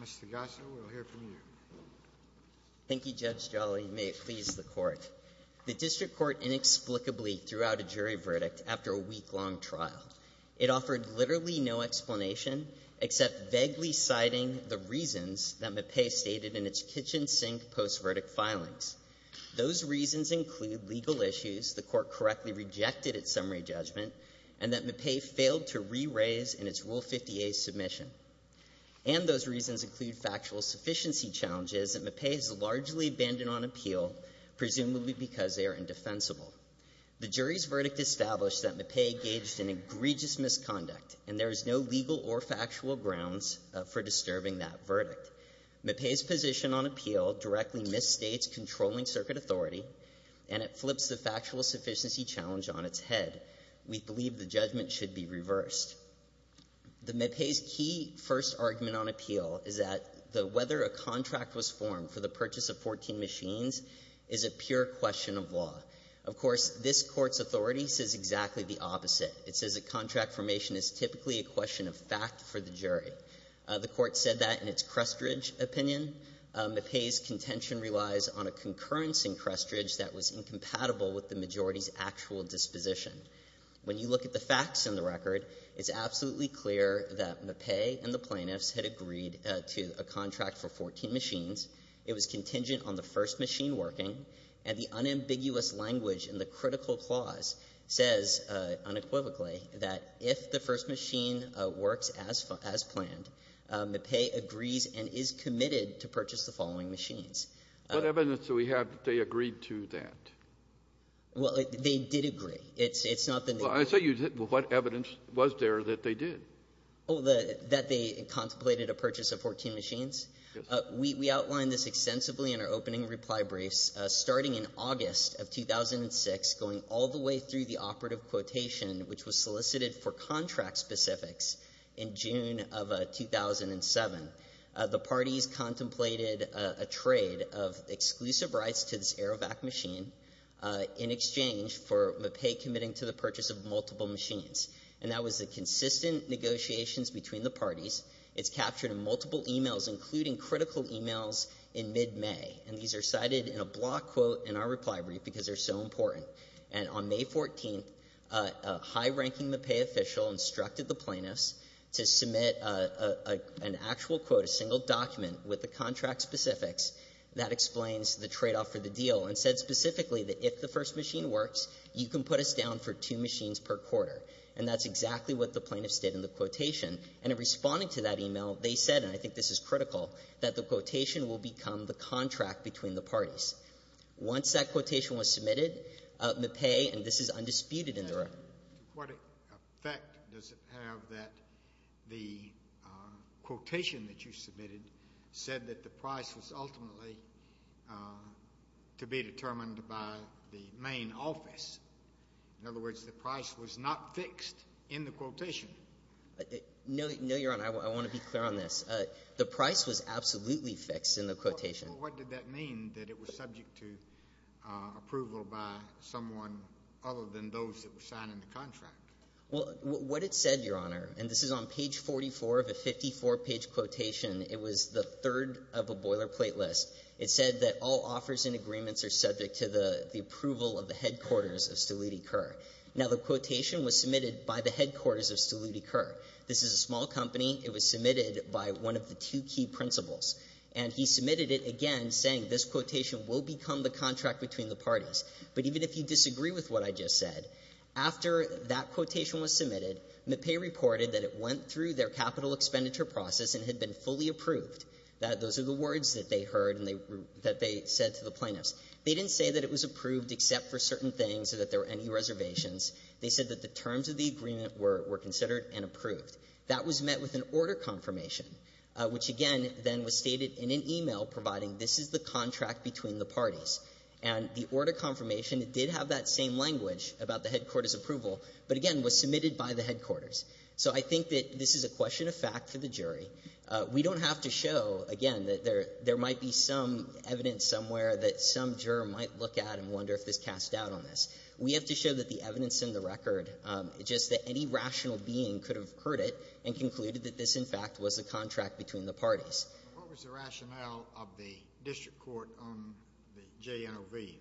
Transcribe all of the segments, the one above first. Mr. Gasso, we'll hear from you. Thank you, Judge Jolly. May it please the Court. The District Court inexplicably threw out a jury verdict after a week-long trial. It offered literally no explanation except vaguely citing the reasons that MAPEI stated in its kitchen sink post-verdict filings. Those reasons include legal issues the Court correctly rejected at summary judgment and that MAPEI failed to re-raise in its Rule 50a submission. And those reasons include factual sufficiency challenges that MAPEI has largely abandoned on appeal, presumably because they are indefensible. The jury's verdict established that MAPEI gauged an egregious misconduct, and there is no legal or factual grounds for disturbing that verdict. MAPEI's position on appeal directly misstates controlling circuit authority, and it flips the factual sufficiency challenge on its head. We believe the judgment should be reversed. The MAPEI's key first argument on appeal is that the whether a contract was formed for the purchase of 14 machines is a pure question of law. Of course, this Court's authority says exactly the opposite. It says a contract formation is typically a question of fact for the jury. The Court said that in its Crestridge opinion. MAPEI's contention relies on a concurrence in Crestridge that was incompatible with the majority's actual disposition. When you look at the facts in the record, it's absolutely clear that MAPEI and the plaintiffs had agreed to a contract for 14 machines. It was contingent on the first machine working. And the unambiguous language in the critical clause says unequivocally that if the first machine works as planned, MAPEI agrees and is committed to purchase the following machines. What evidence do we have that they agreed to that? Well, they did agree. It's not that they didn't. Well, I say you didn't, but what evidence was there that they did? Oh, that they contemplated a purchase of 14 machines? Yes. We outlined this extensively in our opening reply briefs, starting in August of 2006, going all the way through the operative quotation, which was solicited for contract specifics in June of 2007. The parties contemplated a trade of exclusive rights to this Aerovac machine in exchange for MAPEI committing to the purchase of multiple machines. And that was the consistent negotiations between the parties. It's captured in multiple e-mails, including critical e-mails in mid-May. And these are cited in a block quote in our reply brief because they're so important. And on May 14th, a high-ranking MAPEI official instructed the plaintiffs to submit an actual quote, a single document with the contract specifics that explains the tradeoff for the deal and said specifically that if the first machine works, you can put us down for two machines per quarter. And that's exactly what the plaintiffs did in the quotation. And in responding to that e-mail, they said, and I think this is critical, that the quotation will become the contract between the parties. Once that quotation was submitted, MAPEI, and this is undisputed in the record. To what effect does it have that the quotation that you submitted said that the price was ultimately to be determined by the main office? In other words, the price was not fixed in the quotation. No, Your Honor, I want to be clear on this. The price was absolutely fixed in the quotation. What did that mean, that it was subject to approval by someone other than those that were signing the contract? What it said, Your Honor, and this is on page 44 of a 54-page quotation, it was the third of a boilerplate list. It said that all offers and agreements are subject to the approval of the headquarters of Stelutti Kerr. Now, the quotation was submitted by the headquarters of Stelutti Kerr. This is a small company. It was submitted by one of the two key principals, and he submitted it again saying this quotation will become the contract between the parties. But even if you disagree with what I just said, after that quotation was submitted, MAPEI reported that it went through their capital expenditure process and had been fully approved. Those are the words that they heard and that they said to the plaintiffs. They didn't say that it was approved except for certain things or that there were any reservations. They said that the terms of the agreement were considered and approved. That was met with an order confirmation, which again then was stated in an e-mail providing this is the contract between the parties. And the order confirmation, it did have that same language about the headquarters' approval, but again was submitted by the headquarters. So I think that this is a question of fact for the jury. We don't have to show, again, that there might be some evidence somewhere that some juror might look at and wonder if this cast doubt on this. We have to show that the evidence in the record, just that any rational being could have heard it and concluded that this, in fact, was a contract between the parties. Sotomayor, what was the rationale of the district court on the JNOV?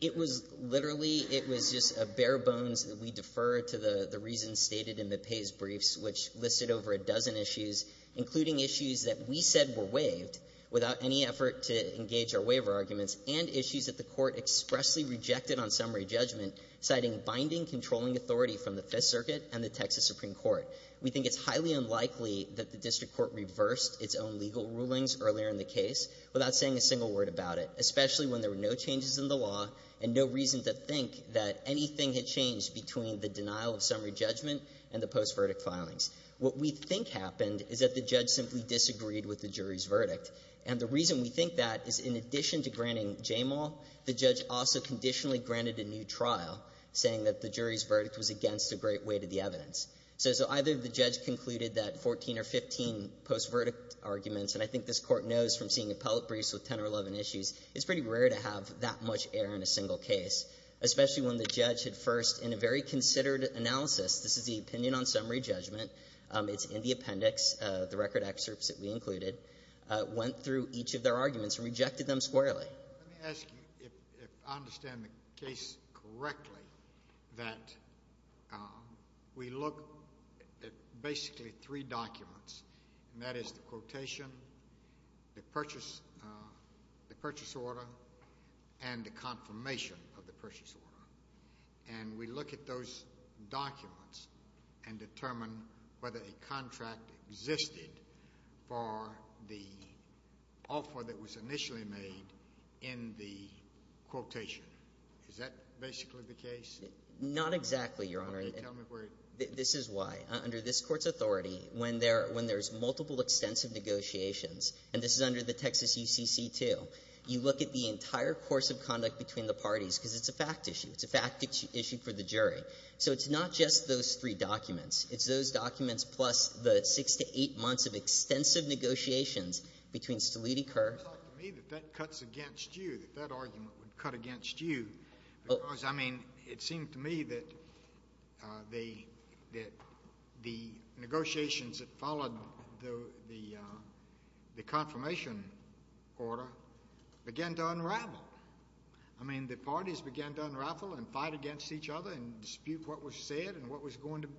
It was literally, it was just a bare bones. We defer to the reasons stated in MAPEI's briefs, which listed over a dozen issues, including issues that we said were waived without any effort to engage our waiver arguments, and issues that the court expressly rejected on summary judgment, citing binding controlling authority from the Fifth Circuit and the Texas Supreme Court. We think it's highly unlikely that the district court reversed its own legal rulings earlier in the case without saying a single word about it, especially when there were no changes in the law and no reason to think that anything had changed between the denial of summary judgment and the post-verdict filings. What we think happened is that the judge simply disagreed with the jury's verdict. And the reason we think that is in addition to granting JMAL, the judge also conditionally granted a new trial, saying that the jury's verdict was against a great weight of the evidence. So either the judge concluded that 14 or 15 post-verdict arguments, and I think this Court knows from seeing appellate briefs with 10 or 11 issues, it's pretty rare to have that much error in a single case, especially when the judge had first in a very considered analysis, this is the opinion on summary judgment, it's in the appendix, the record excerpts that we included, went through each of their arguments and rejected them squarely. Let me ask you if I understand the case correctly, that we look at basically three documents, and that is the quotation, the purchase order, and the confirmation of the purchase order. And we look at those documents and determine whether a contract existed for the offer that was initially made in the quotation. Is that basically the case? Not exactly, Your Honor. Okay, tell me where it is. This is why, under this Court's authority, when there's multiple extensive negotiations, and this is under the Texas UCC-2, you look at the entire course of conduct between the parties, because it's a fact issue. It's a fact issue for the jury. So it's not just those three documents. It's those documents plus the six to eight months of extensive negotiations between Mr. Leedy, Kerr. It doesn't seem to me that that cuts against you, that that argument would cut against you, because, I mean, it seems to me that the negotiations that followed the confirmation order began to unravel. I mean, the parties began to unravel and fight against each other and dispute what was said and what was going to be.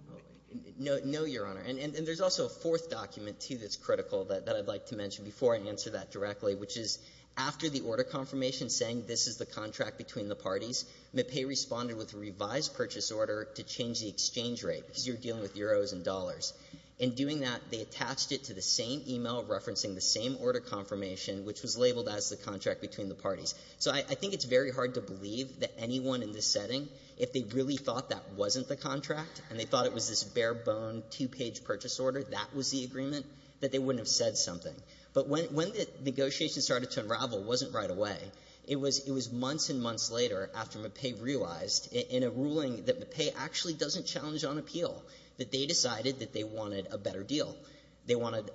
No, Your Honor. And there's also a fourth document, too, that's critical that I'd like to mention before I answer that directly, which is, after the order confirmation saying this is the contract between the parties, MPAE responded with a revised purchase order to change the exchange rate, because you're dealing with euros and dollars. In doing that, they attached it to the same e-mail referencing the same order confirmation, which was labeled as the contract between the parties. So I think it's very hard to believe that anyone in this setting, if they really thought that wasn't the contract and they thought it was this bare-boned, two-page purchase order, that was the agreement, that they wouldn't have said something. But when the negotiations started to unravel, it wasn't right away. It was months and months later, after MPAE realized in a ruling that MPAE actually doesn't challenge on appeal, that they decided that they wanted a better deal. They wanted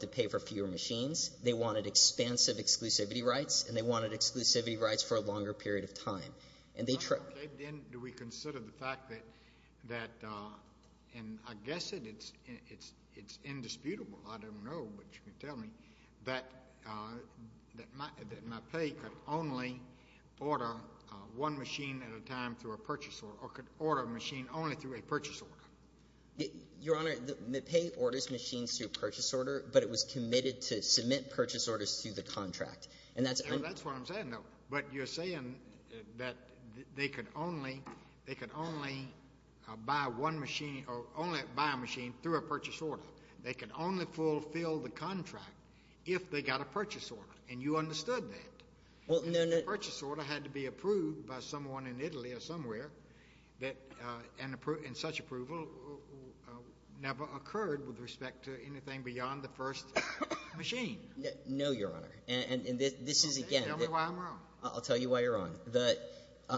to pay for fewer machines. They wanted expansive exclusivity rights. And they wanted exclusivity rights for a longer period of time. And they tried to do that. And I guess it's indisputable, I don't know, but you can tell me, that MPAE could only order one machine at a time through a purchase order, or could order a machine only through a purchase order. Your Honor, MPAE orders machines through a purchase order, but it was committed to submit purchase orders through the contract. And that's why I'm saying, though, but you're saying that MPAE was committed that they could only buy one machine, or only buy a machine through a purchase order. They could only fulfill the contract if they got a purchase order, and you understood that. Well, no, no. And the purchase order had to be approved by someone in Italy or somewhere, and such approval never occurred with respect to anything beyond the first machine. No, Your Honor. And this is, again— Tell me why I'm wrong. I'll tell you why you're wrong.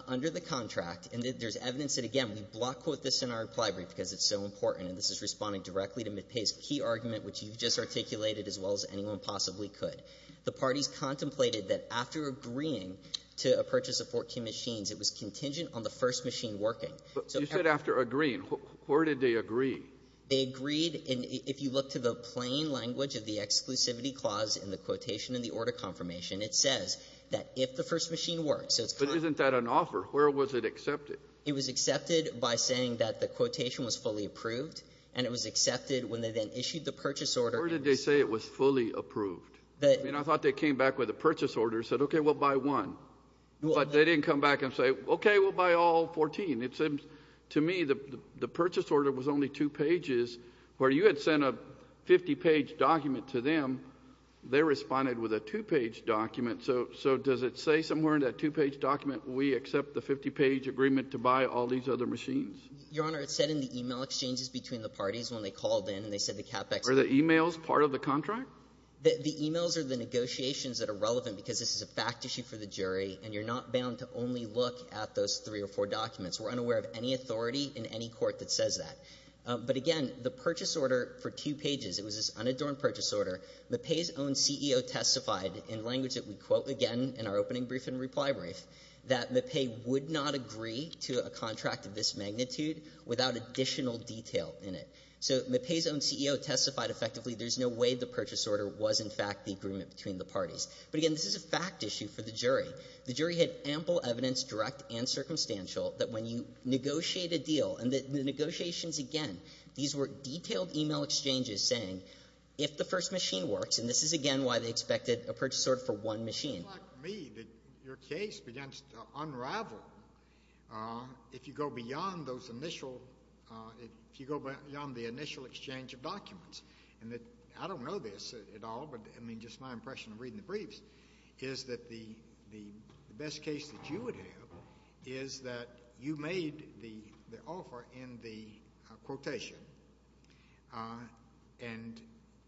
Under the contract, and there's evidence that, again, we block-quote this in our reply brief because it's so important, and this is responding directly to MPAE's key argument, which you've just articulated as well as anyone possibly could. The parties contemplated that after agreeing to a purchase of 14 machines, it was contingent on the first machine working. So every— But you said after agreeing. Where did they agree? They agreed in — if you look to the plain language of the exclusivity clause in the Quotation and the Order Confirmation, it says that if the first machine works, so it's— But isn't that an offer? Where was it accepted? It was accepted by saying that the quotation was fully approved, and it was accepted when they then issued the purchase order. Where did they say it was fully approved? I mean, I thought they came back with a purchase order and said, okay, we'll buy one. But they didn't come back and say, okay, we'll buy all 14. It seems to me the purchase order was only two pages, where you had sent a 50-page document to them, they responded with a two-page document. So does it say somewhere in that two-page document, we accept the 50-page agreement to buy all these other machines? Your Honor, it said in the e-mail exchanges between the parties when they called in and they said the CapEx— Are the e-mails part of the contract? The e-mails are the negotiations that are relevant, because this is a fact issue for the jury, and you're not bound to only look at those three or four documents. We're unaware of any authority in any court that says that. But again, the purchase order for two pages, it was this unadorned purchase order. Mappé's own CEO testified in language that we quote again in our opening brief and reply brief, that Mappé would not agree to a contract of this magnitude without additional detail in it. So Mappé's own CEO testified effectively there's no way the purchase order was in fact the agreement between the parties. But again, this is a fact issue for the jury. The jury had ample evidence, direct and circumstantial, that when you negotiate a deal, and the negotiations, again, these were detailed e-mail exchanges saying if the first machine works, and this is again why they expected a purchase order for one machine. It's not to me that your case begins to unravel if you go beyond those initial — if you go beyond the initial exchange of documents. And I don't know this at all, but I mean, just my impression of reading the briefs is that the best case that you would have is that you made the offer in the quotation and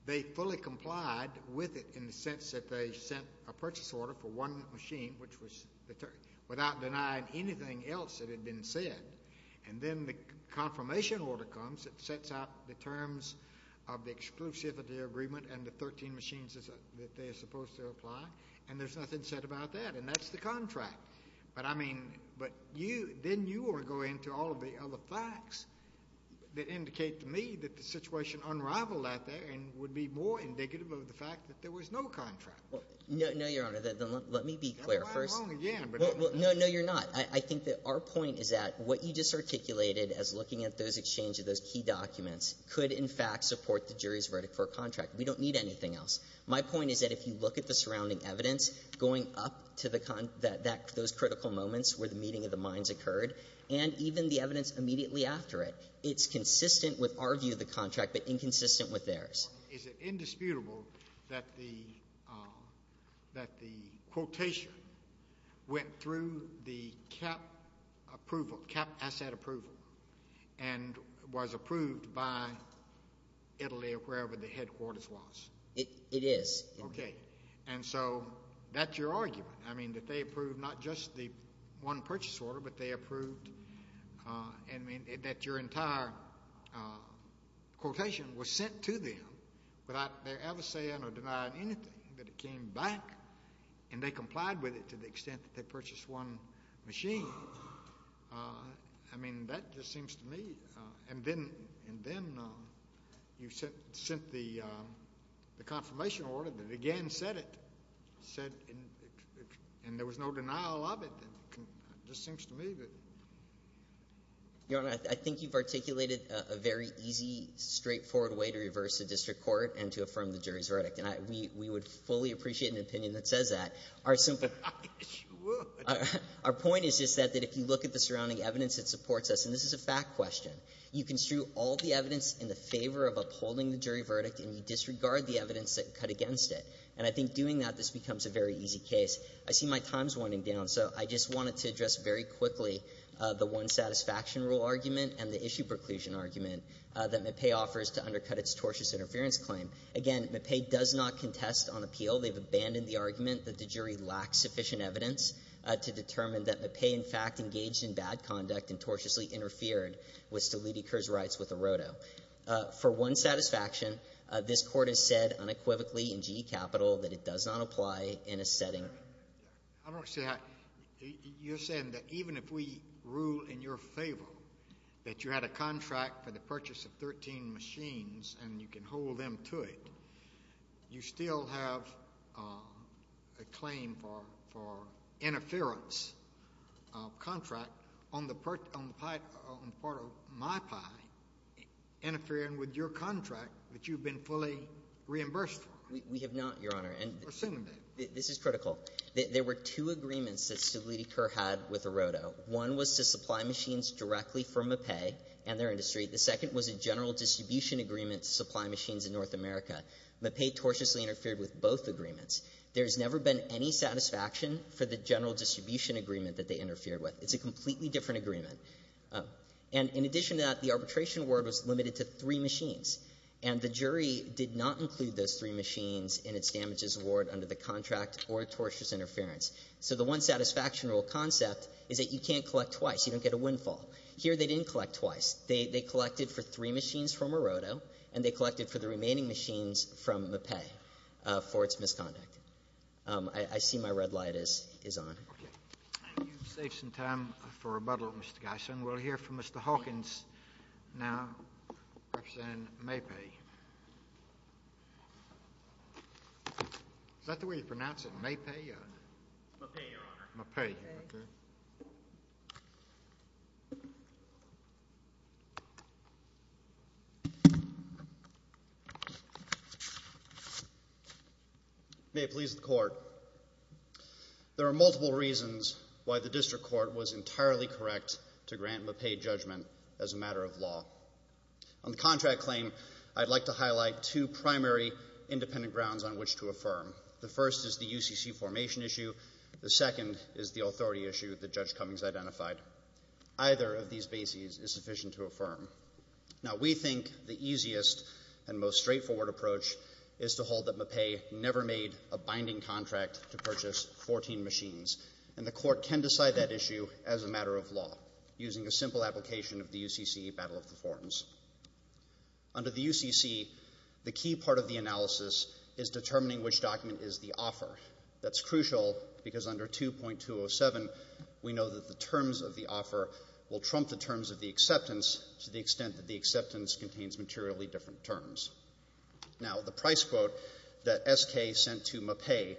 they fully complied with it in the sense that they sent a purchase order for one machine, which was the — without denying anything else that had been said. And then the confirmation order comes, it sets out the terms of the exclusivity agreement and the 13 machines that they are supposed to apply, and there's nothing said about that. And that's the contract. But I mean — but you — then you are going to all of the other facts that indicate to me that the situation unrivaled out there and would be more indicative of the fact that there was no contract. No, Your Honor, let me be clear first. I'm wrong again, but — No, no, you're not. I think that our point is that what you just articulated as looking at those exchange of those key documents could, in fact, support the jury's verdict for a contract. We don't need anything else. My point is that if you look at the surrounding evidence going up to the — that those critical moments where the meeting of the mines occurred and even the evidence immediately after it, it's consistent with our view of the contract but inconsistent with theirs. Is it indisputable that the — that the quotation went through the CAP approval, CAP asset approval, and was approved by Italy or wherever the headquarters was? It is. Okay. And so that's your argument, I mean, that they approved not just the one purchase order, but they approved — I mean, that your entire quotation was sent to them without their ever saying or denying anything, that it came back and they complied with it to the extent that they purchased one machine. I mean, that just seems to me — and then you sent the confirmation order that again said it, said — and there was no denial of it. It just seems to me that — Your Honor, I think you've articulated a very easy, straightforward way to reverse the district court and to affirm the jury's verdict, and we would fully appreciate an opinion that says that. Our simple — Yes, you would. Our point is just that if you look at the surrounding evidence that supports us — and this is a fact question — you construe all the evidence in the favor of upholding the jury verdict and you disregard the evidence that cut against it. And I think doing that, this becomes a very easy case. I see my time's winding down, so I just wanted to address very quickly the one satisfaction rule argument and the issue preclusion argument that McPay offers to undercut its tortious interference claim. Again, McPay does not contest on appeal. They've abandoned the argument that the jury lacked sufficient evidence to determine that McPay, in fact, engaged in bad conduct and tortiously interfered with Steliti Kerr's rights with Erodo. For one satisfaction, this Court has said unequivocally in GE Capital that it does not apply in a setting — I don't see how — you're saying that even if we rule in your favor that you had a contract for the purchase of 13 machines and you can hold them to it, you still have a claim for — for interference contract on the part of my pie interfering with your contract that you've been fully reimbursed for? We have not, Your Honor. And this is critical. There were two agreements that Steliti Kerr had with Erodo. One was to supply machines directly for McPay and their industry. The second was a general distribution agreement to supply machines in North America. McPay tortiously interfered with both agreements. There's never been any satisfaction for the general distribution agreement that they interfered with. It's a completely different agreement. And in addition to that, the arbitration award was limited to three machines, and the jury did not include those three machines in its damages award under the contract or tortious interference. So the one satisfactional concept is that you can't collect twice. You don't get a windfall. Here, they didn't collect twice. They collected for three machines from Erodo, and they collected for the remaining machines from McPay for its misconduct. I see my red light is on. Okay. You've saved some time for rebuttal, Mr. Gysin. We'll hear from Mr. Hawkins now, representing Maypay. Is that the way you pronounce it, Maypay? Maypay, Your Honor. Maypay. Maypay. Maypay. Maypay. May it please the court. There are multiple reasons why the district court was entirely correct to grant McPay judgment as a matter of law. On the contract claim, I'd like to highlight two primary independent grounds on which to affirm. The first is the UCC formation issue. The second is the authority issue that Judge Cummings identified. Either of these bases is sufficient to affirm. Now, we think the easiest and most straightforward approach is to hold that Maypay never made a binding contract to purchase 14 machines, and the court can decide that issue as a matter of law using a simple application of the UCC battle of the forms. Under the UCC, the key part of the analysis is determining which document is the offer. That's crucial because under 2.207, we know that the terms of the offer will trump the terms of the acceptance to the extent that the acceptance contains materially different terms. Now, the price quote that SK sent to Maypay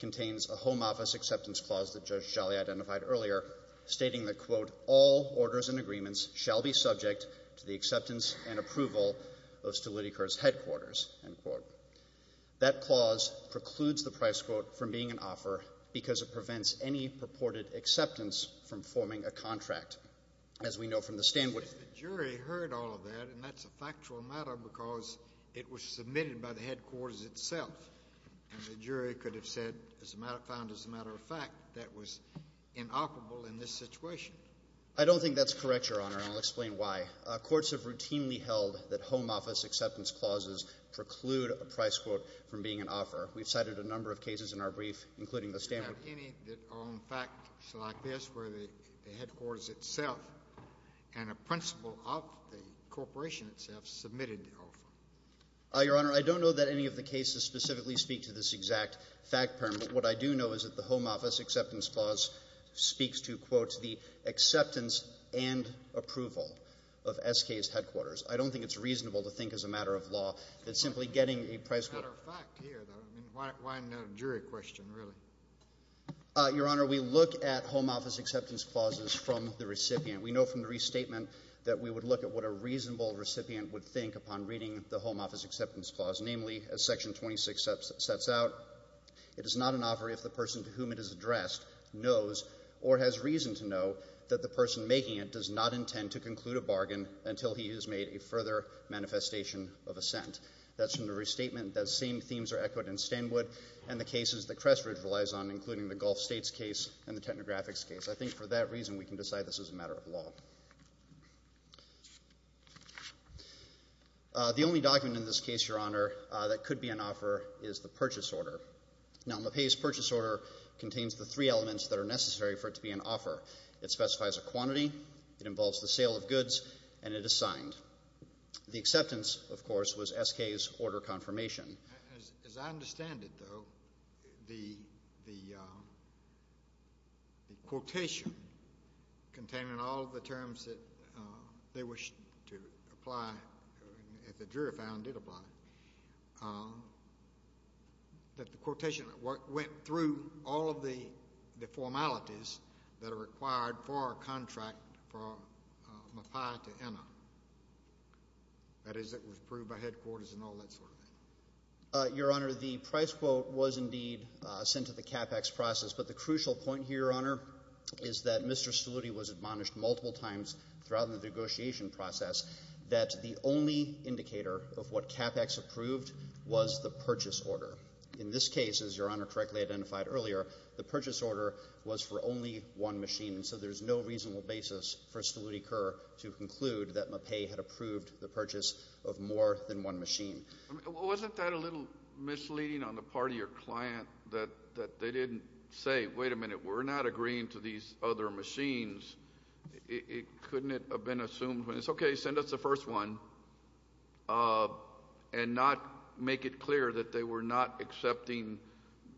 contains a home office acceptance clause that Judge Jolly identified earlier, stating that, quote, all orders and agreements shall be subject to the acceptance and approval of Stolytiker's headquarters, end quote. That clause precludes the price quote from being an offer because it prevents any purported acceptance from forming a contract. As we know from the stand— But if the jury heard all of that, and that's a factual matter because it was submitted by the headquarters itself, and the jury could have said, found as a matter of fact, that was inoperable in this situation. I don't think that's correct, Your Honor, and I'll explain why. Courts have routinely held that home office acceptance clauses preclude a price quote from being an offer. We've cited a number of cases in our brief, including the Stanford— Do you have any that are, in fact, like this, where the headquarters itself and a principal of the corporation itself submitted the offer? Your Honor, I don't know that any of the cases specifically speak to this exact fact parameter. What I do know is that the home office acceptance clause speaks to, quote, the acceptance and approval of SK's headquarters. I don't think it's reasonable to think as a matter of law that simply getting a price quote— As a matter of fact here, though, I mean, why another jury question, really? Your Honor, we look at home office acceptance clauses from the recipient. We know from the restatement that we would look at what a reasonable recipient would think upon reading the home office acceptance clause, namely, as Section 26 sets out, it is not an offer if the person to whom it is addressed knows or has reason to know that the person making it does not intend to conclude a bargain until he has made a further manifestation of assent. That's from the restatement that same themes are echoed in Stanwood and the cases that Crestridge relies on, including the Gulf States case and the Technographics case. I think for that reason, we can decide this is a matter of law. The only document in this case, Your Honor, that could be an offer is the purchase order. Now, LaPaix's purchase order contains the three elements that are necessary for it to be an offer. It specifies a quantity, it involves the sale of goods, and it is signed. The acceptance, of course, was SK's order confirmation. As I understand it, though, the quotation containing all of the terms that they wish to apply, that the jury found did apply, that the quotation went through all of the formalities that are required for a contract from MaPaix to ENA. That is, it was approved by headquarters and all that sort of thing. Your Honor, the price quote was indeed sent to the CapEx process, but the crucial point here, Your Honor, is that Mr. Stoluti was admonished multiple times throughout the negotiation process that the only indicator of what CapEx approved was the purchase order. In this case, as Your Honor correctly identified earlier, the purchase order was for only one machine, so there's no reasonable basis for Stoluti Kerr to conclude that MaPaix had approved the purchase of more than one machine. Wasn't that a little misleading on the part of your client that they didn't say, wait a minute, we're not agreeing to these other machines? Couldn't it have been assumed, well, it's okay, send us the first one, and not make it clear that they were not accepting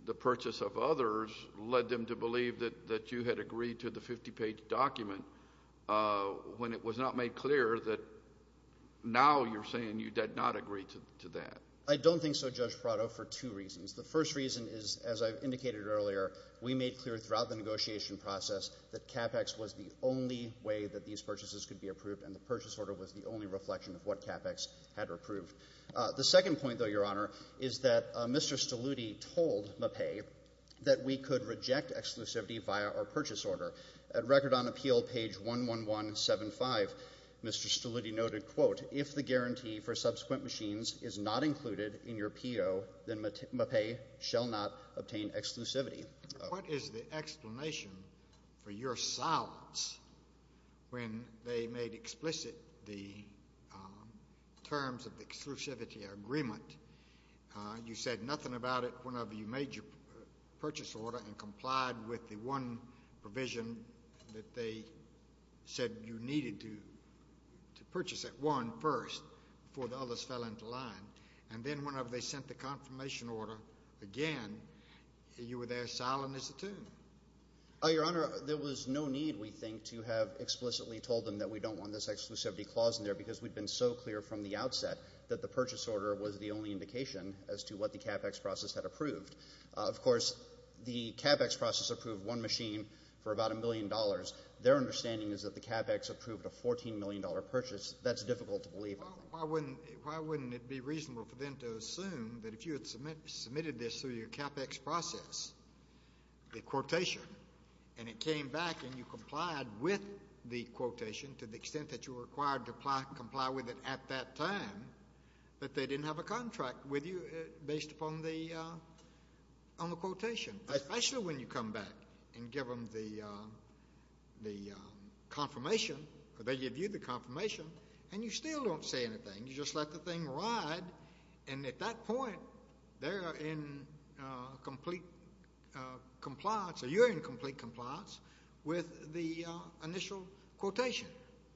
the purchase of others led them to believe that you had agreed to the 50-page document when it was not made clear that now you're saying you did not agree to that? I don't think so, Judge Prado, for two reasons. The first reason is, as I indicated earlier, we made clear throughout the negotiation process that CapEx was the only way that these purchases could be approved, and the purchase order was the only reflection of what CapEx had approved. The second point, though, Your Honor, is that Mr. Stoluti told MaPaix that we could reject exclusivity via our purchase order. At Record on Appeal, page 11175, Mr. Stoluti noted, quote, if the guarantee for subsequent machines is not included in your P.O., then MaPaix shall not obtain exclusivity. What is the explanation for your silence when they made explicit the terms of the exclusivity agreement? You said nothing about it whenever you made your purchase order and complied with the one provision that they said you needed to purchase at one first before the others fell into line. And then whenever they sent the confirmation order again, you were there silent as a toon. Oh, Your Honor, there was no need, we think, to have explicitly told them that we don't want this exclusivity clause in there because we'd been so clear from the outset that the purchase order was the only indication as to what the CapEx process had approved. Of course, the CapEx process approved one machine for about a million dollars. Their understanding is that the CapEx approved a $14 million purchase. That's difficult to believe. Well, why wouldn't it be reasonable for them to assume that if you had submitted this through your CapEx process, the quotation, and it came back and you complied with the quotation to the extent that you were required to comply with it at that time, that they didn't have a contract with you based upon the quotation, especially when you come back and give them the confirmation, or they give you the confirmation, and you still don't say anything, you just let the thing ride, and at that point, they're in complete compliance, or you're in complete compliance with the initial quotation.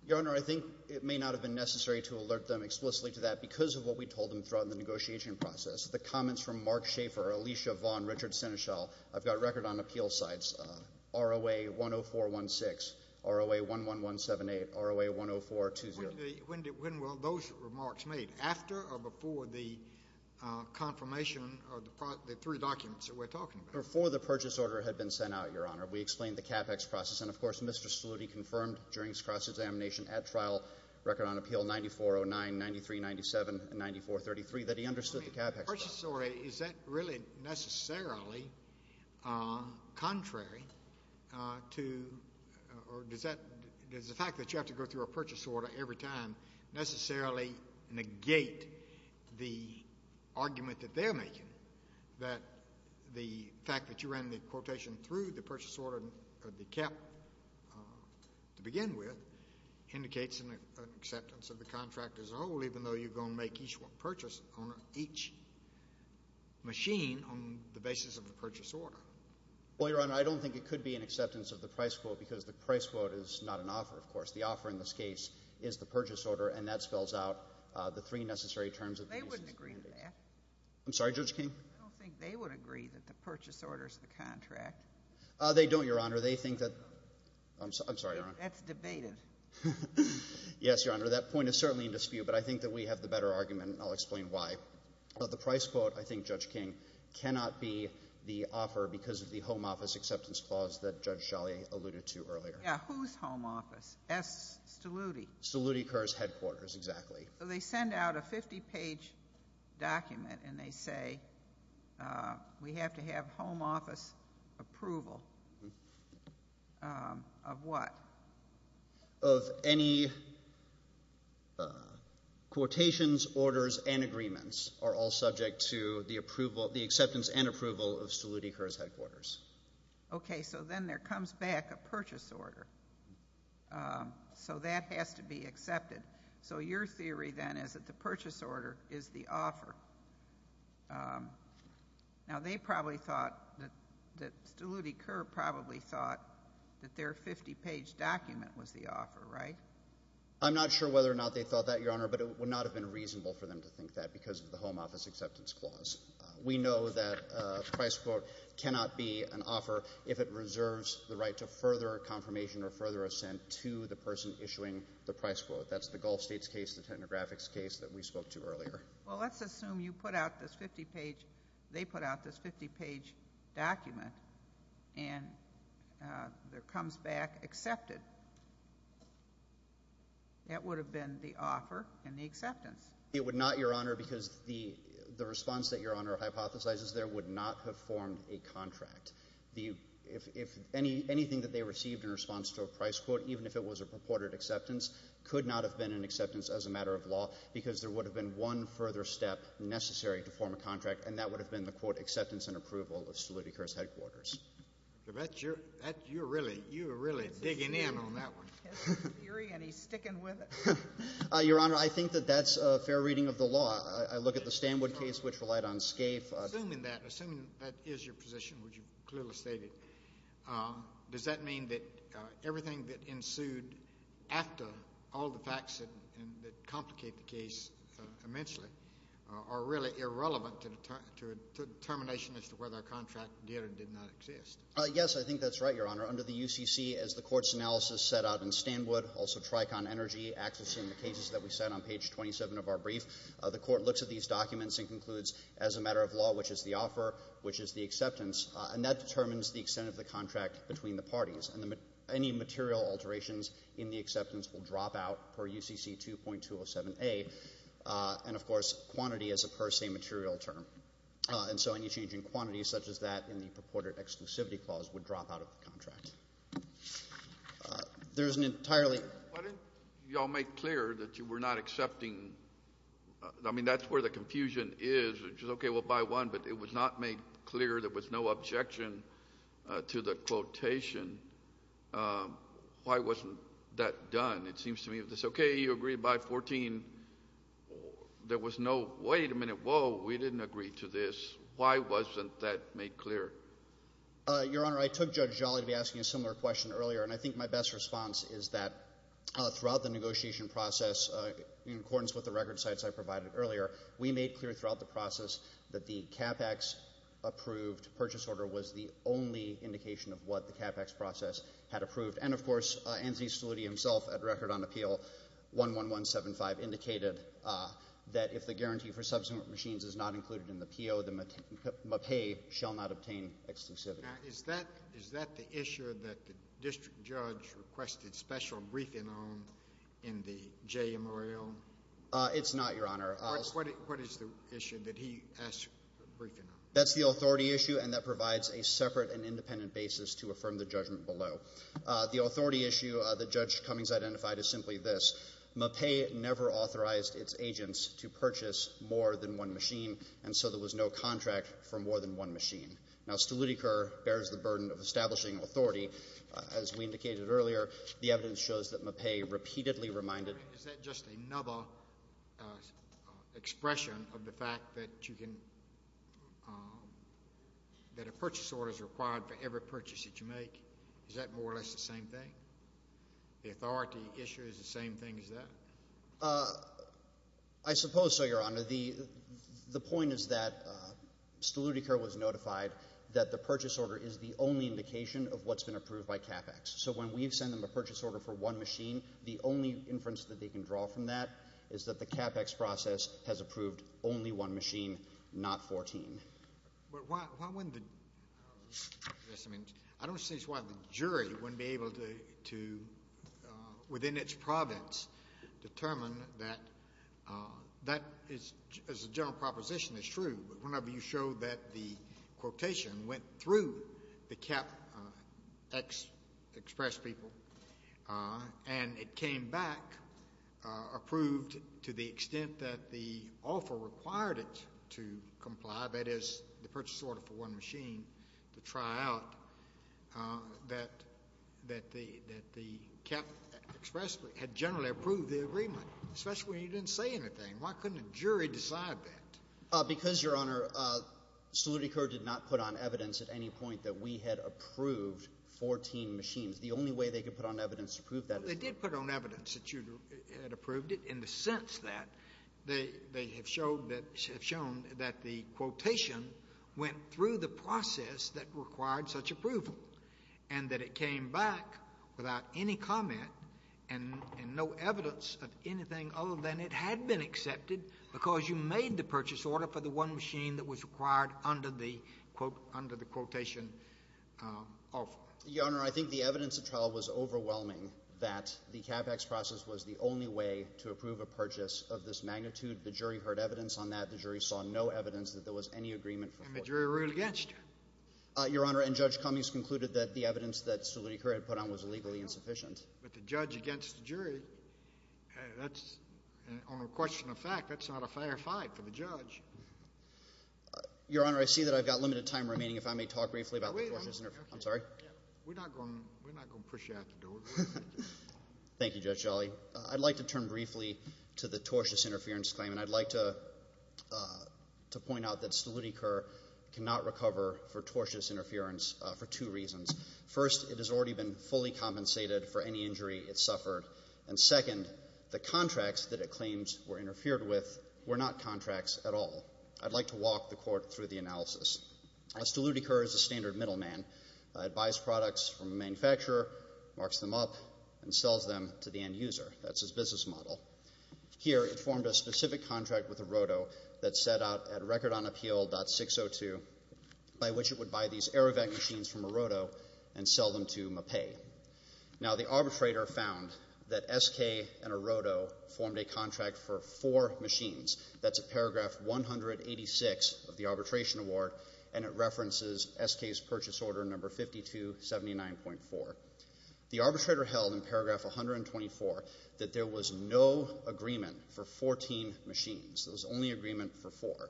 Your Honor, I think it may not have been necessary to alert them explicitly to that because of what we told them throughout the negotiation process. The comments from Mark Schaefer, Alicia Vaughn, Richard Senechal, I've got a record on appeal sites, ROA 10416, ROA 11178, ROA 10420. When were those remarks made, after or before the confirmation of the three documents that we're talking about? Before the purchase order had been sent out, Your Honor. We explained the CapEx process, and of course, Mr. Stoluti confirmed during his cross-examination at trial, record on appeal 9409, 9397, and 9433, that he understood the CapEx process. The purchase order, is that really necessarily contrary to, or does the fact that you have to go through a purchase order every time necessarily negate the argument that they're making, that the fact that you ran the quotation through the purchase order of the cap to begin with indicates an acceptance of the contract as a whole, even though you're going to make each purchase on each machine on the basis of the purchase order? Well, Your Honor, I don't think it could be an acceptance of the price quote, because the price quote is not an offer, of course. The offer in this case is the purchase order, and that spells out the three necessary terms of these. They wouldn't agree to that. I'm sorry, Judge King? I don't think they would agree that the purchase order is the contract. They don't, Your Honor. That's debated. Yes, Your Honor. That point is certainly in dispute, but I think that we have the better argument, and I'll explain why. But the price quote, I think, Judge King, cannot be the offer because of the home office acceptance clause that Judge Sholley alluded to earlier. Yeah, whose home office? S. Steluti. Steluti-Kerr's headquarters, exactly. So they send out a 50-page document, and they say, we have to have home office approval of what? Of any quotations, orders, and agreements are all subject to the acceptance and approval of Steluti-Kerr's headquarters. Okay, so then there comes back a purchase order. So that has to be accepted. So your theory, then, is that the purchase order is the offer. Now, they probably thought that Steluti-Kerr probably thought that their 50-page document was the offer, right? I'm not sure whether or not they thought that, Your Honor, but it would not have been reasonable for them to think that because of the home office acceptance clause. We know that a price quote cannot be an offer if it reserves the right to further confirmation or further assent to the person issuing the price quote. That's the Gulf States case, the technographics case that we spoke to earlier. Well, let's assume you put out this 50-page, they put out this 50-page document, and there comes back accepted. That would have been the offer and the acceptance. It would not, Your Honor, because the response that Your Honor hypothesizes there would not have formed a contract. Anything that they received in response to a price quote, even if it was a purported acceptance, could not have been an acceptance as a matter of law because there would have been one further step necessary to form a contract, and that would have been the, quote, acceptance and approval of Stolyti Kerr's headquarters. You're really digging in on that one. It's eerie and he's sticking with it. Your Honor, I think that that's a fair reading of the law. I look at the Stanwood case, which relied on SCAFE. Assuming that is your position, which you've clearly stated, does that mean that everything that ensued after all the facts that complicate the case immensely are really irrelevant to a determination as to whether a contract did or did not exist? Yes, I think that's right, Your Honor. Under the UCC, as the Court's analysis set out in Stanwood, also Tricon Energy, accessing the cases that we set on page 27 of our brief, the Court looks at these documents and concludes as a matter of law, which is the offer, which is the acceptance, and that determines the material alterations in the acceptance will drop out per UCC 2.207A, and of course, quantity is a per se material term. And so any change in quantity, such as that in the purported exclusivity clause, would drop out of the contract. There's an entirely... Why didn't you all make clear that you were not accepting, I mean, that's where the confusion is, which is, okay, we'll buy one, but it was not made clear there was no objection to the quotation. Why wasn't that done? It seems to me, okay, you agreed to buy 14, there was no, wait a minute, whoa, we didn't agree to this. Why wasn't that made clear? Your Honor, I took Judge Jolly to be asking a similar question earlier, and I think my best response is that throughout the negotiation process, in accordance with the record sites I provided earlier, we made clear throughout the process that the CAPEX-approved purchase order was the only indication of what the CAPEX process had approved. And of course, Anthony Stoliti himself, at Record on Appeal 11175, indicated that if the guarantee for subsequent machines is not included in the PO, the MAPE shall not obtain exclusivity. Now, is that the issue that the district judge requested special briefing on in the JMRO? It's not, Your Honor. What is the issue that he asked for briefing on? That's the authority issue, and that provides a separate and independent basis to affirm the judgment below. The authority issue that Judge Cummings identified is simply this. MAPE never authorized its agents to purchase more than one machine, and so there was no contract for more than one machine. Now, Stolitiker bears the burden of establishing authority. As we indicated earlier, the evidence shows that MAPE repeatedly reminded — Is that just another expression of the fact that you can — that a purchase order is required for every purchase that you make? Is that more or less the same thing? The authority issue is the same thing as that? I suppose so, Your Honor. The point is that Stolitiker was notified that the purchase order is the only indication of what's been approved by CAPEX. So when we've sent them a purchase order for one machine, the only inference that they can draw from that is that the CAPEX process has approved only one machine, not 14. But why wouldn't the — I don't see why the jury wouldn't be able to, within its province, determine that that is — as a general proposition, is true, but whenever you show that the quotation went through the CAPEX express people and it came back approved to the extent that the offer required it to comply, that is, the purchase order for one machine, to try out, that the CAPEX had generally approved the agreement, especially when you didn't say anything. Why couldn't a jury decide that? Because, Your Honor, Stolitiker did not put on evidence at any point that we had approved 14 machines. The only way they could put on evidence to prove that is — Well, they did put on evidence that you had approved it in the sense that they have showed that — have shown that the quotation went through the process that required such approval, and that it came back without any comment and no evidence of anything other than it had been accepted because you made the purchase order for the one machine that was required under the quotation offer. Your Honor, I think the evidence of trial was overwhelming that the CAPEX process was the only way to approve a purchase of this magnitude. The jury heard evidence on that. The jury saw no evidence that there was any agreement for 14 machines. And the jury ruled against you. Your Honor, and Judge Cummings concluded that the evidence that Stolitiker had put on was legally insufficient. But the judge against the jury, that's — on a question of fact, that's not a fair fight for the judge. Your Honor, I see that I've got limited time remaining, if I may talk briefly about the tortious — I'm sorry? We're not going to push you out the door. Thank you, Judge Jolly. I'd like to turn briefly to the tortious interference claim, and I'd like to point out that Stolitiker cannot recover for tortious interference for two reasons. First, it has already been fully compensated for any injury it suffered. And second, the contracts that it claims were interfered with were not contracts at all. I'd like to walk the Court through the analysis. Stolitiker is a standard middleman. It buys products from a manufacturer, marks them up, and sells them to the end user. That's his business model. Here, it formed a specific contract with Arodo that set out at Record on Appeal.602 by which it would buy these AeroVac machines from Arodo and sell them to Mapei. Now the arbitrator found that SK and Arodo formed a contract for four machines. That's at paragraph 186 of the Arbitration Award, and it references SK's purchase order number 5279.4. The arbitrator held in paragraph 124 that there was no agreement for 14 machines. There was only agreement for four.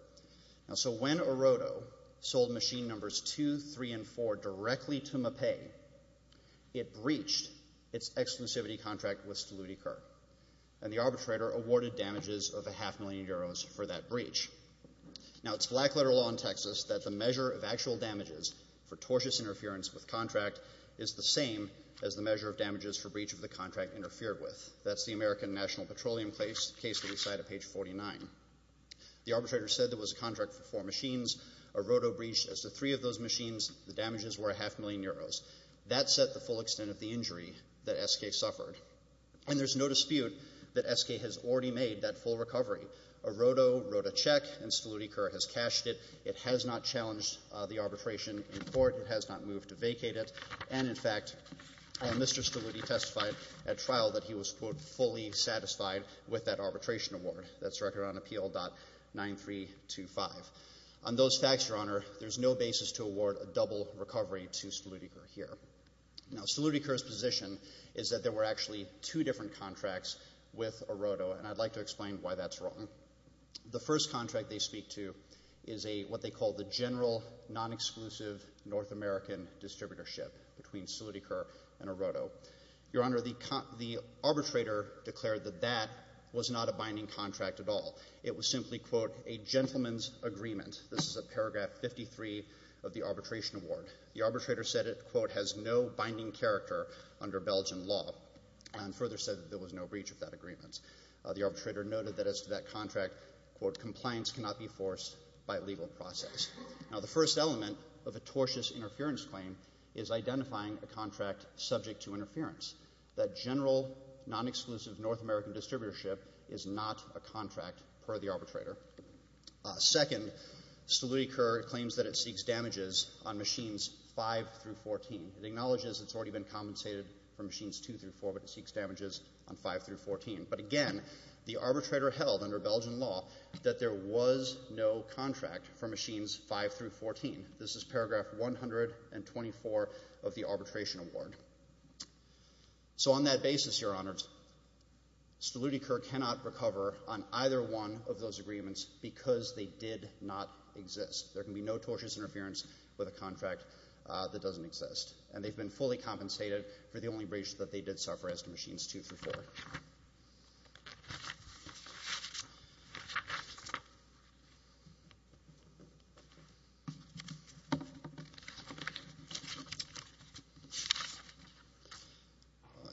So when Arodo sold machine numbers 2, 3, and 4 directly to Mapei, it breached its exclusivity contract with Stolitiker, and the arbitrator awarded damages of a half million euros for that breach. Now, it's black-letter law in Texas that the measure of actual damages for tortious interference with contract is the same as the measure of damages for breach of the contract interfered with. That's the American National Petroleum case that we cite at page 49. The arbitrator said there was a contract for four machines. Arodo breached as to three of those machines. The damages were a half million euros. That set the full extent of the injury that SK suffered. And there's no dispute that SK has already made that full recovery. Arodo wrote a check, and Stolitiker has cashed it. It has not challenged the arbitration in court. It has not moved to vacate it. And in fact, Mr. Stolitiker testified at trial that he was, quote, fully satisfied with that Arbitration Award. That's recorded on Appeal.9325. On those facts, Your Honor, there's no basis to award a double recovery to Stolitiker here. Now, Stolitiker's position is that there were actually two different contracts with Arodo, and I'd like to explain why that's wrong. The first contract they speak to is a, what they call, the general, non-exclusive North American distributorship between Stolitiker and Arodo. Your Honor, the arbitrator declared that that was not a binding contract at all. It was simply, quote, a gentleman's agreement. This is at paragraph 53 of the Arbitration Award. The arbitrator said it, quote, has no binding character under Belgian law, and further said that there was no breach of that agreement. The arbitrator noted that as to that contract, quote, compliance cannot be forced by legal process. Now, the first element of a tortious interference claim is identifying a contract subject to that general, non-exclusive North American distributorship is not a contract per the arbitrator. Second, Stolitiker claims that it seeks damages on Machines 5 through 14. It acknowledges it's already been compensated for Machines 2 through 4, but it seeks damages on 5 through 14. But again, the arbitrator held under Belgian law that there was no contract for Machines 5 through 14. This is paragraph 124 of the Arbitration Award. So on that basis, Your Honor, Stolitiker cannot recover on either one of those agreements because they did not exist. There can be no tortious interference with a contract that doesn't exist, and they've been fully compensated for the only breach that they did suffer as to Machines 2 through 4.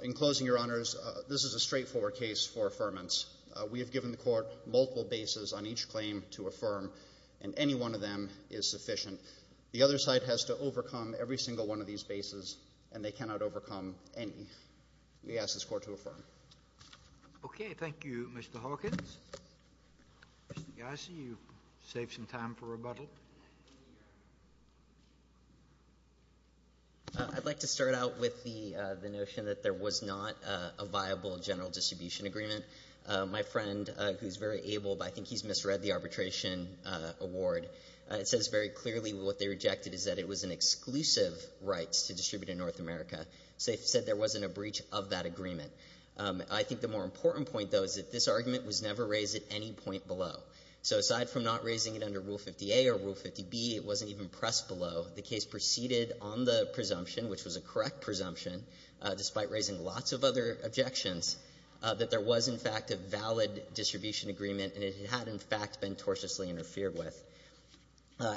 In closing, Your Honors, this is a straightforward case for affirmance. We have given the Court multiple bases on each claim to affirm, and any one of them is sufficient. The other side has to overcome every single one of these bases, and they cannot overcome any. We ask this Court to affirm. Thank you, Mr. Hawkins. Mr. Gassi, you've saved some time for rebuttal. I'd like to start out with the notion that there was not a viable general distribution agreement. My friend, who's very able, but I think he's misread the Arbitration Award, it says very clearly what they rejected is that it was an exclusive right to distribute in North America. So they said there wasn't a breach of that agreement. I think the more important point, though, is that this argument was never raised at any point below. So aside from not raising it under Rule 50A or Rule 50B, it wasn't even pressed below. The case proceeded on the presumption, which was a correct presumption, despite raising lots of other objections, that there was, in fact, a valid distribution agreement, and it had, in fact, been tortiously interfered with.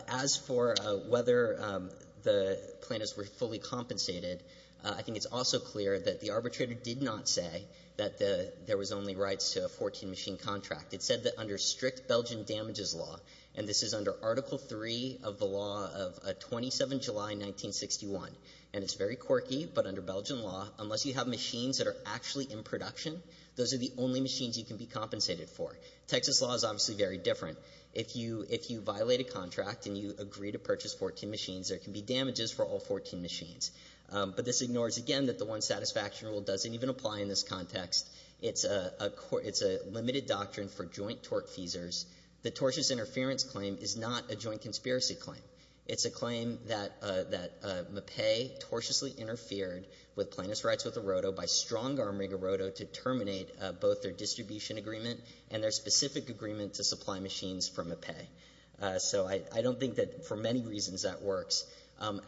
As for whether the plaintiffs were fully compensated, I think it's also clear that the arbitrator did not say that there was only rights to a 14-machine contract. It said that under strict Belgian damages law, and this is under Article 3 of the law of 27 July 1961, and it's very quirky, but under Belgian law, unless you have machines that are actually in production, those are the only machines you can be compensated for. Texas law is obviously very different. If you violate a contract and you agree to purchase 14 machines, there can be damages for all 14 machines. But this ignores, again, that the One Satisfaction Rule doesn't even apply in this context. It's a limited doctrine for joint tortfeasors. The tortious interference claim is not a joint conspiracy claim. It's a claim that Mappe tortiously interfered with Plaintiff's rights with Arroto by strong-arming Arroto to terminate both their distribution agreement and their specific agreement to supply machines for Mappe. So I don't think that for many reasons that works.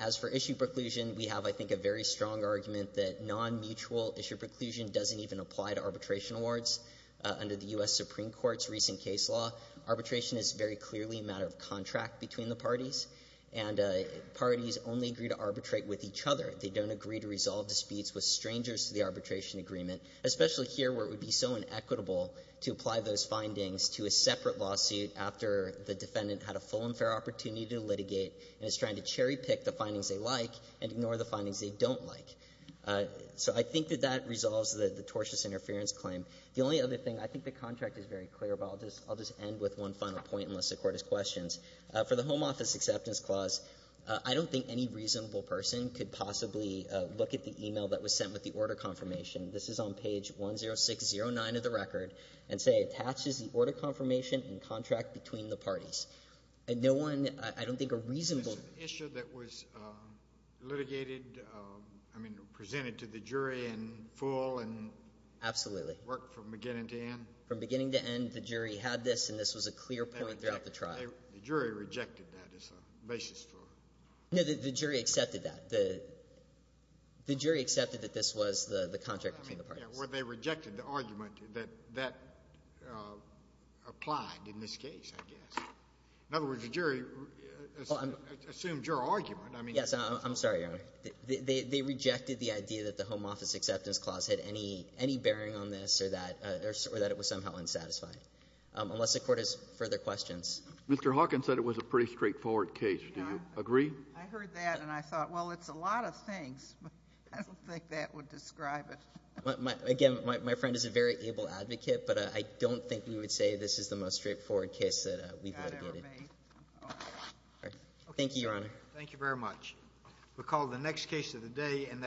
As for issue preclusion, we have, I think, a very strong argument that non-mutual issue preclusion doesn't even apply to arbitration awards. Under the U.S. Supreme Court's recent case law, arbitration is very clearly a matter of contract between the parties, and parties only agree to arbitrate with each other. They don't agree to resolve disputes with strangers to the arbitration agreement, especially here where it would be so inequitable to apply those findings to a separate lawsuit after the defendant had a full and fair opportunity to litigate and is trying to cherry-pick the findings they like and ignore the findings they don't like. So I think that that resolves the tortious interference claim. The only other thing, I think the contract is very clear, but I'll just end with one final point, unless the Court has questions. For the Home Office Acceptance Clause, I don't think any reasonable person could possibly look at the e-mail that was sent with the order confirmation. This is on page 10609 of the record, and say, attaches the order confirmation and contract between the parties. Litigated, I mean, presented to the jury in full and worked from beginning to end? Absolutely. From beginning to end, the jury had this, and this was a clear point throughout the trial. The jury rejected that as a basis for? No, the jury accepted that. The jury accepted that this was the contract between the parties. Well, they rejected the argument that applied in this case, I guess. In other words, the jury assumed your argument. Yes, I'm sorry, Your Honor. They rejected the idea that the Home Office Acceptance Clause had any bearing on this or that it was somehow unsatisfying, unless the Court has further questions. Mr. Hawkins said it was a pretty straightforward case. Do you agree? I heard that, and I thought, well, it's a lot of things. I don't think that would describe it. Again, my friend is a very able advocate, but I don't think we would say this is the most straightforward case that we've ever made. Thank you, Your Honor. Thank you very much. We'll call the next case of the day, and that's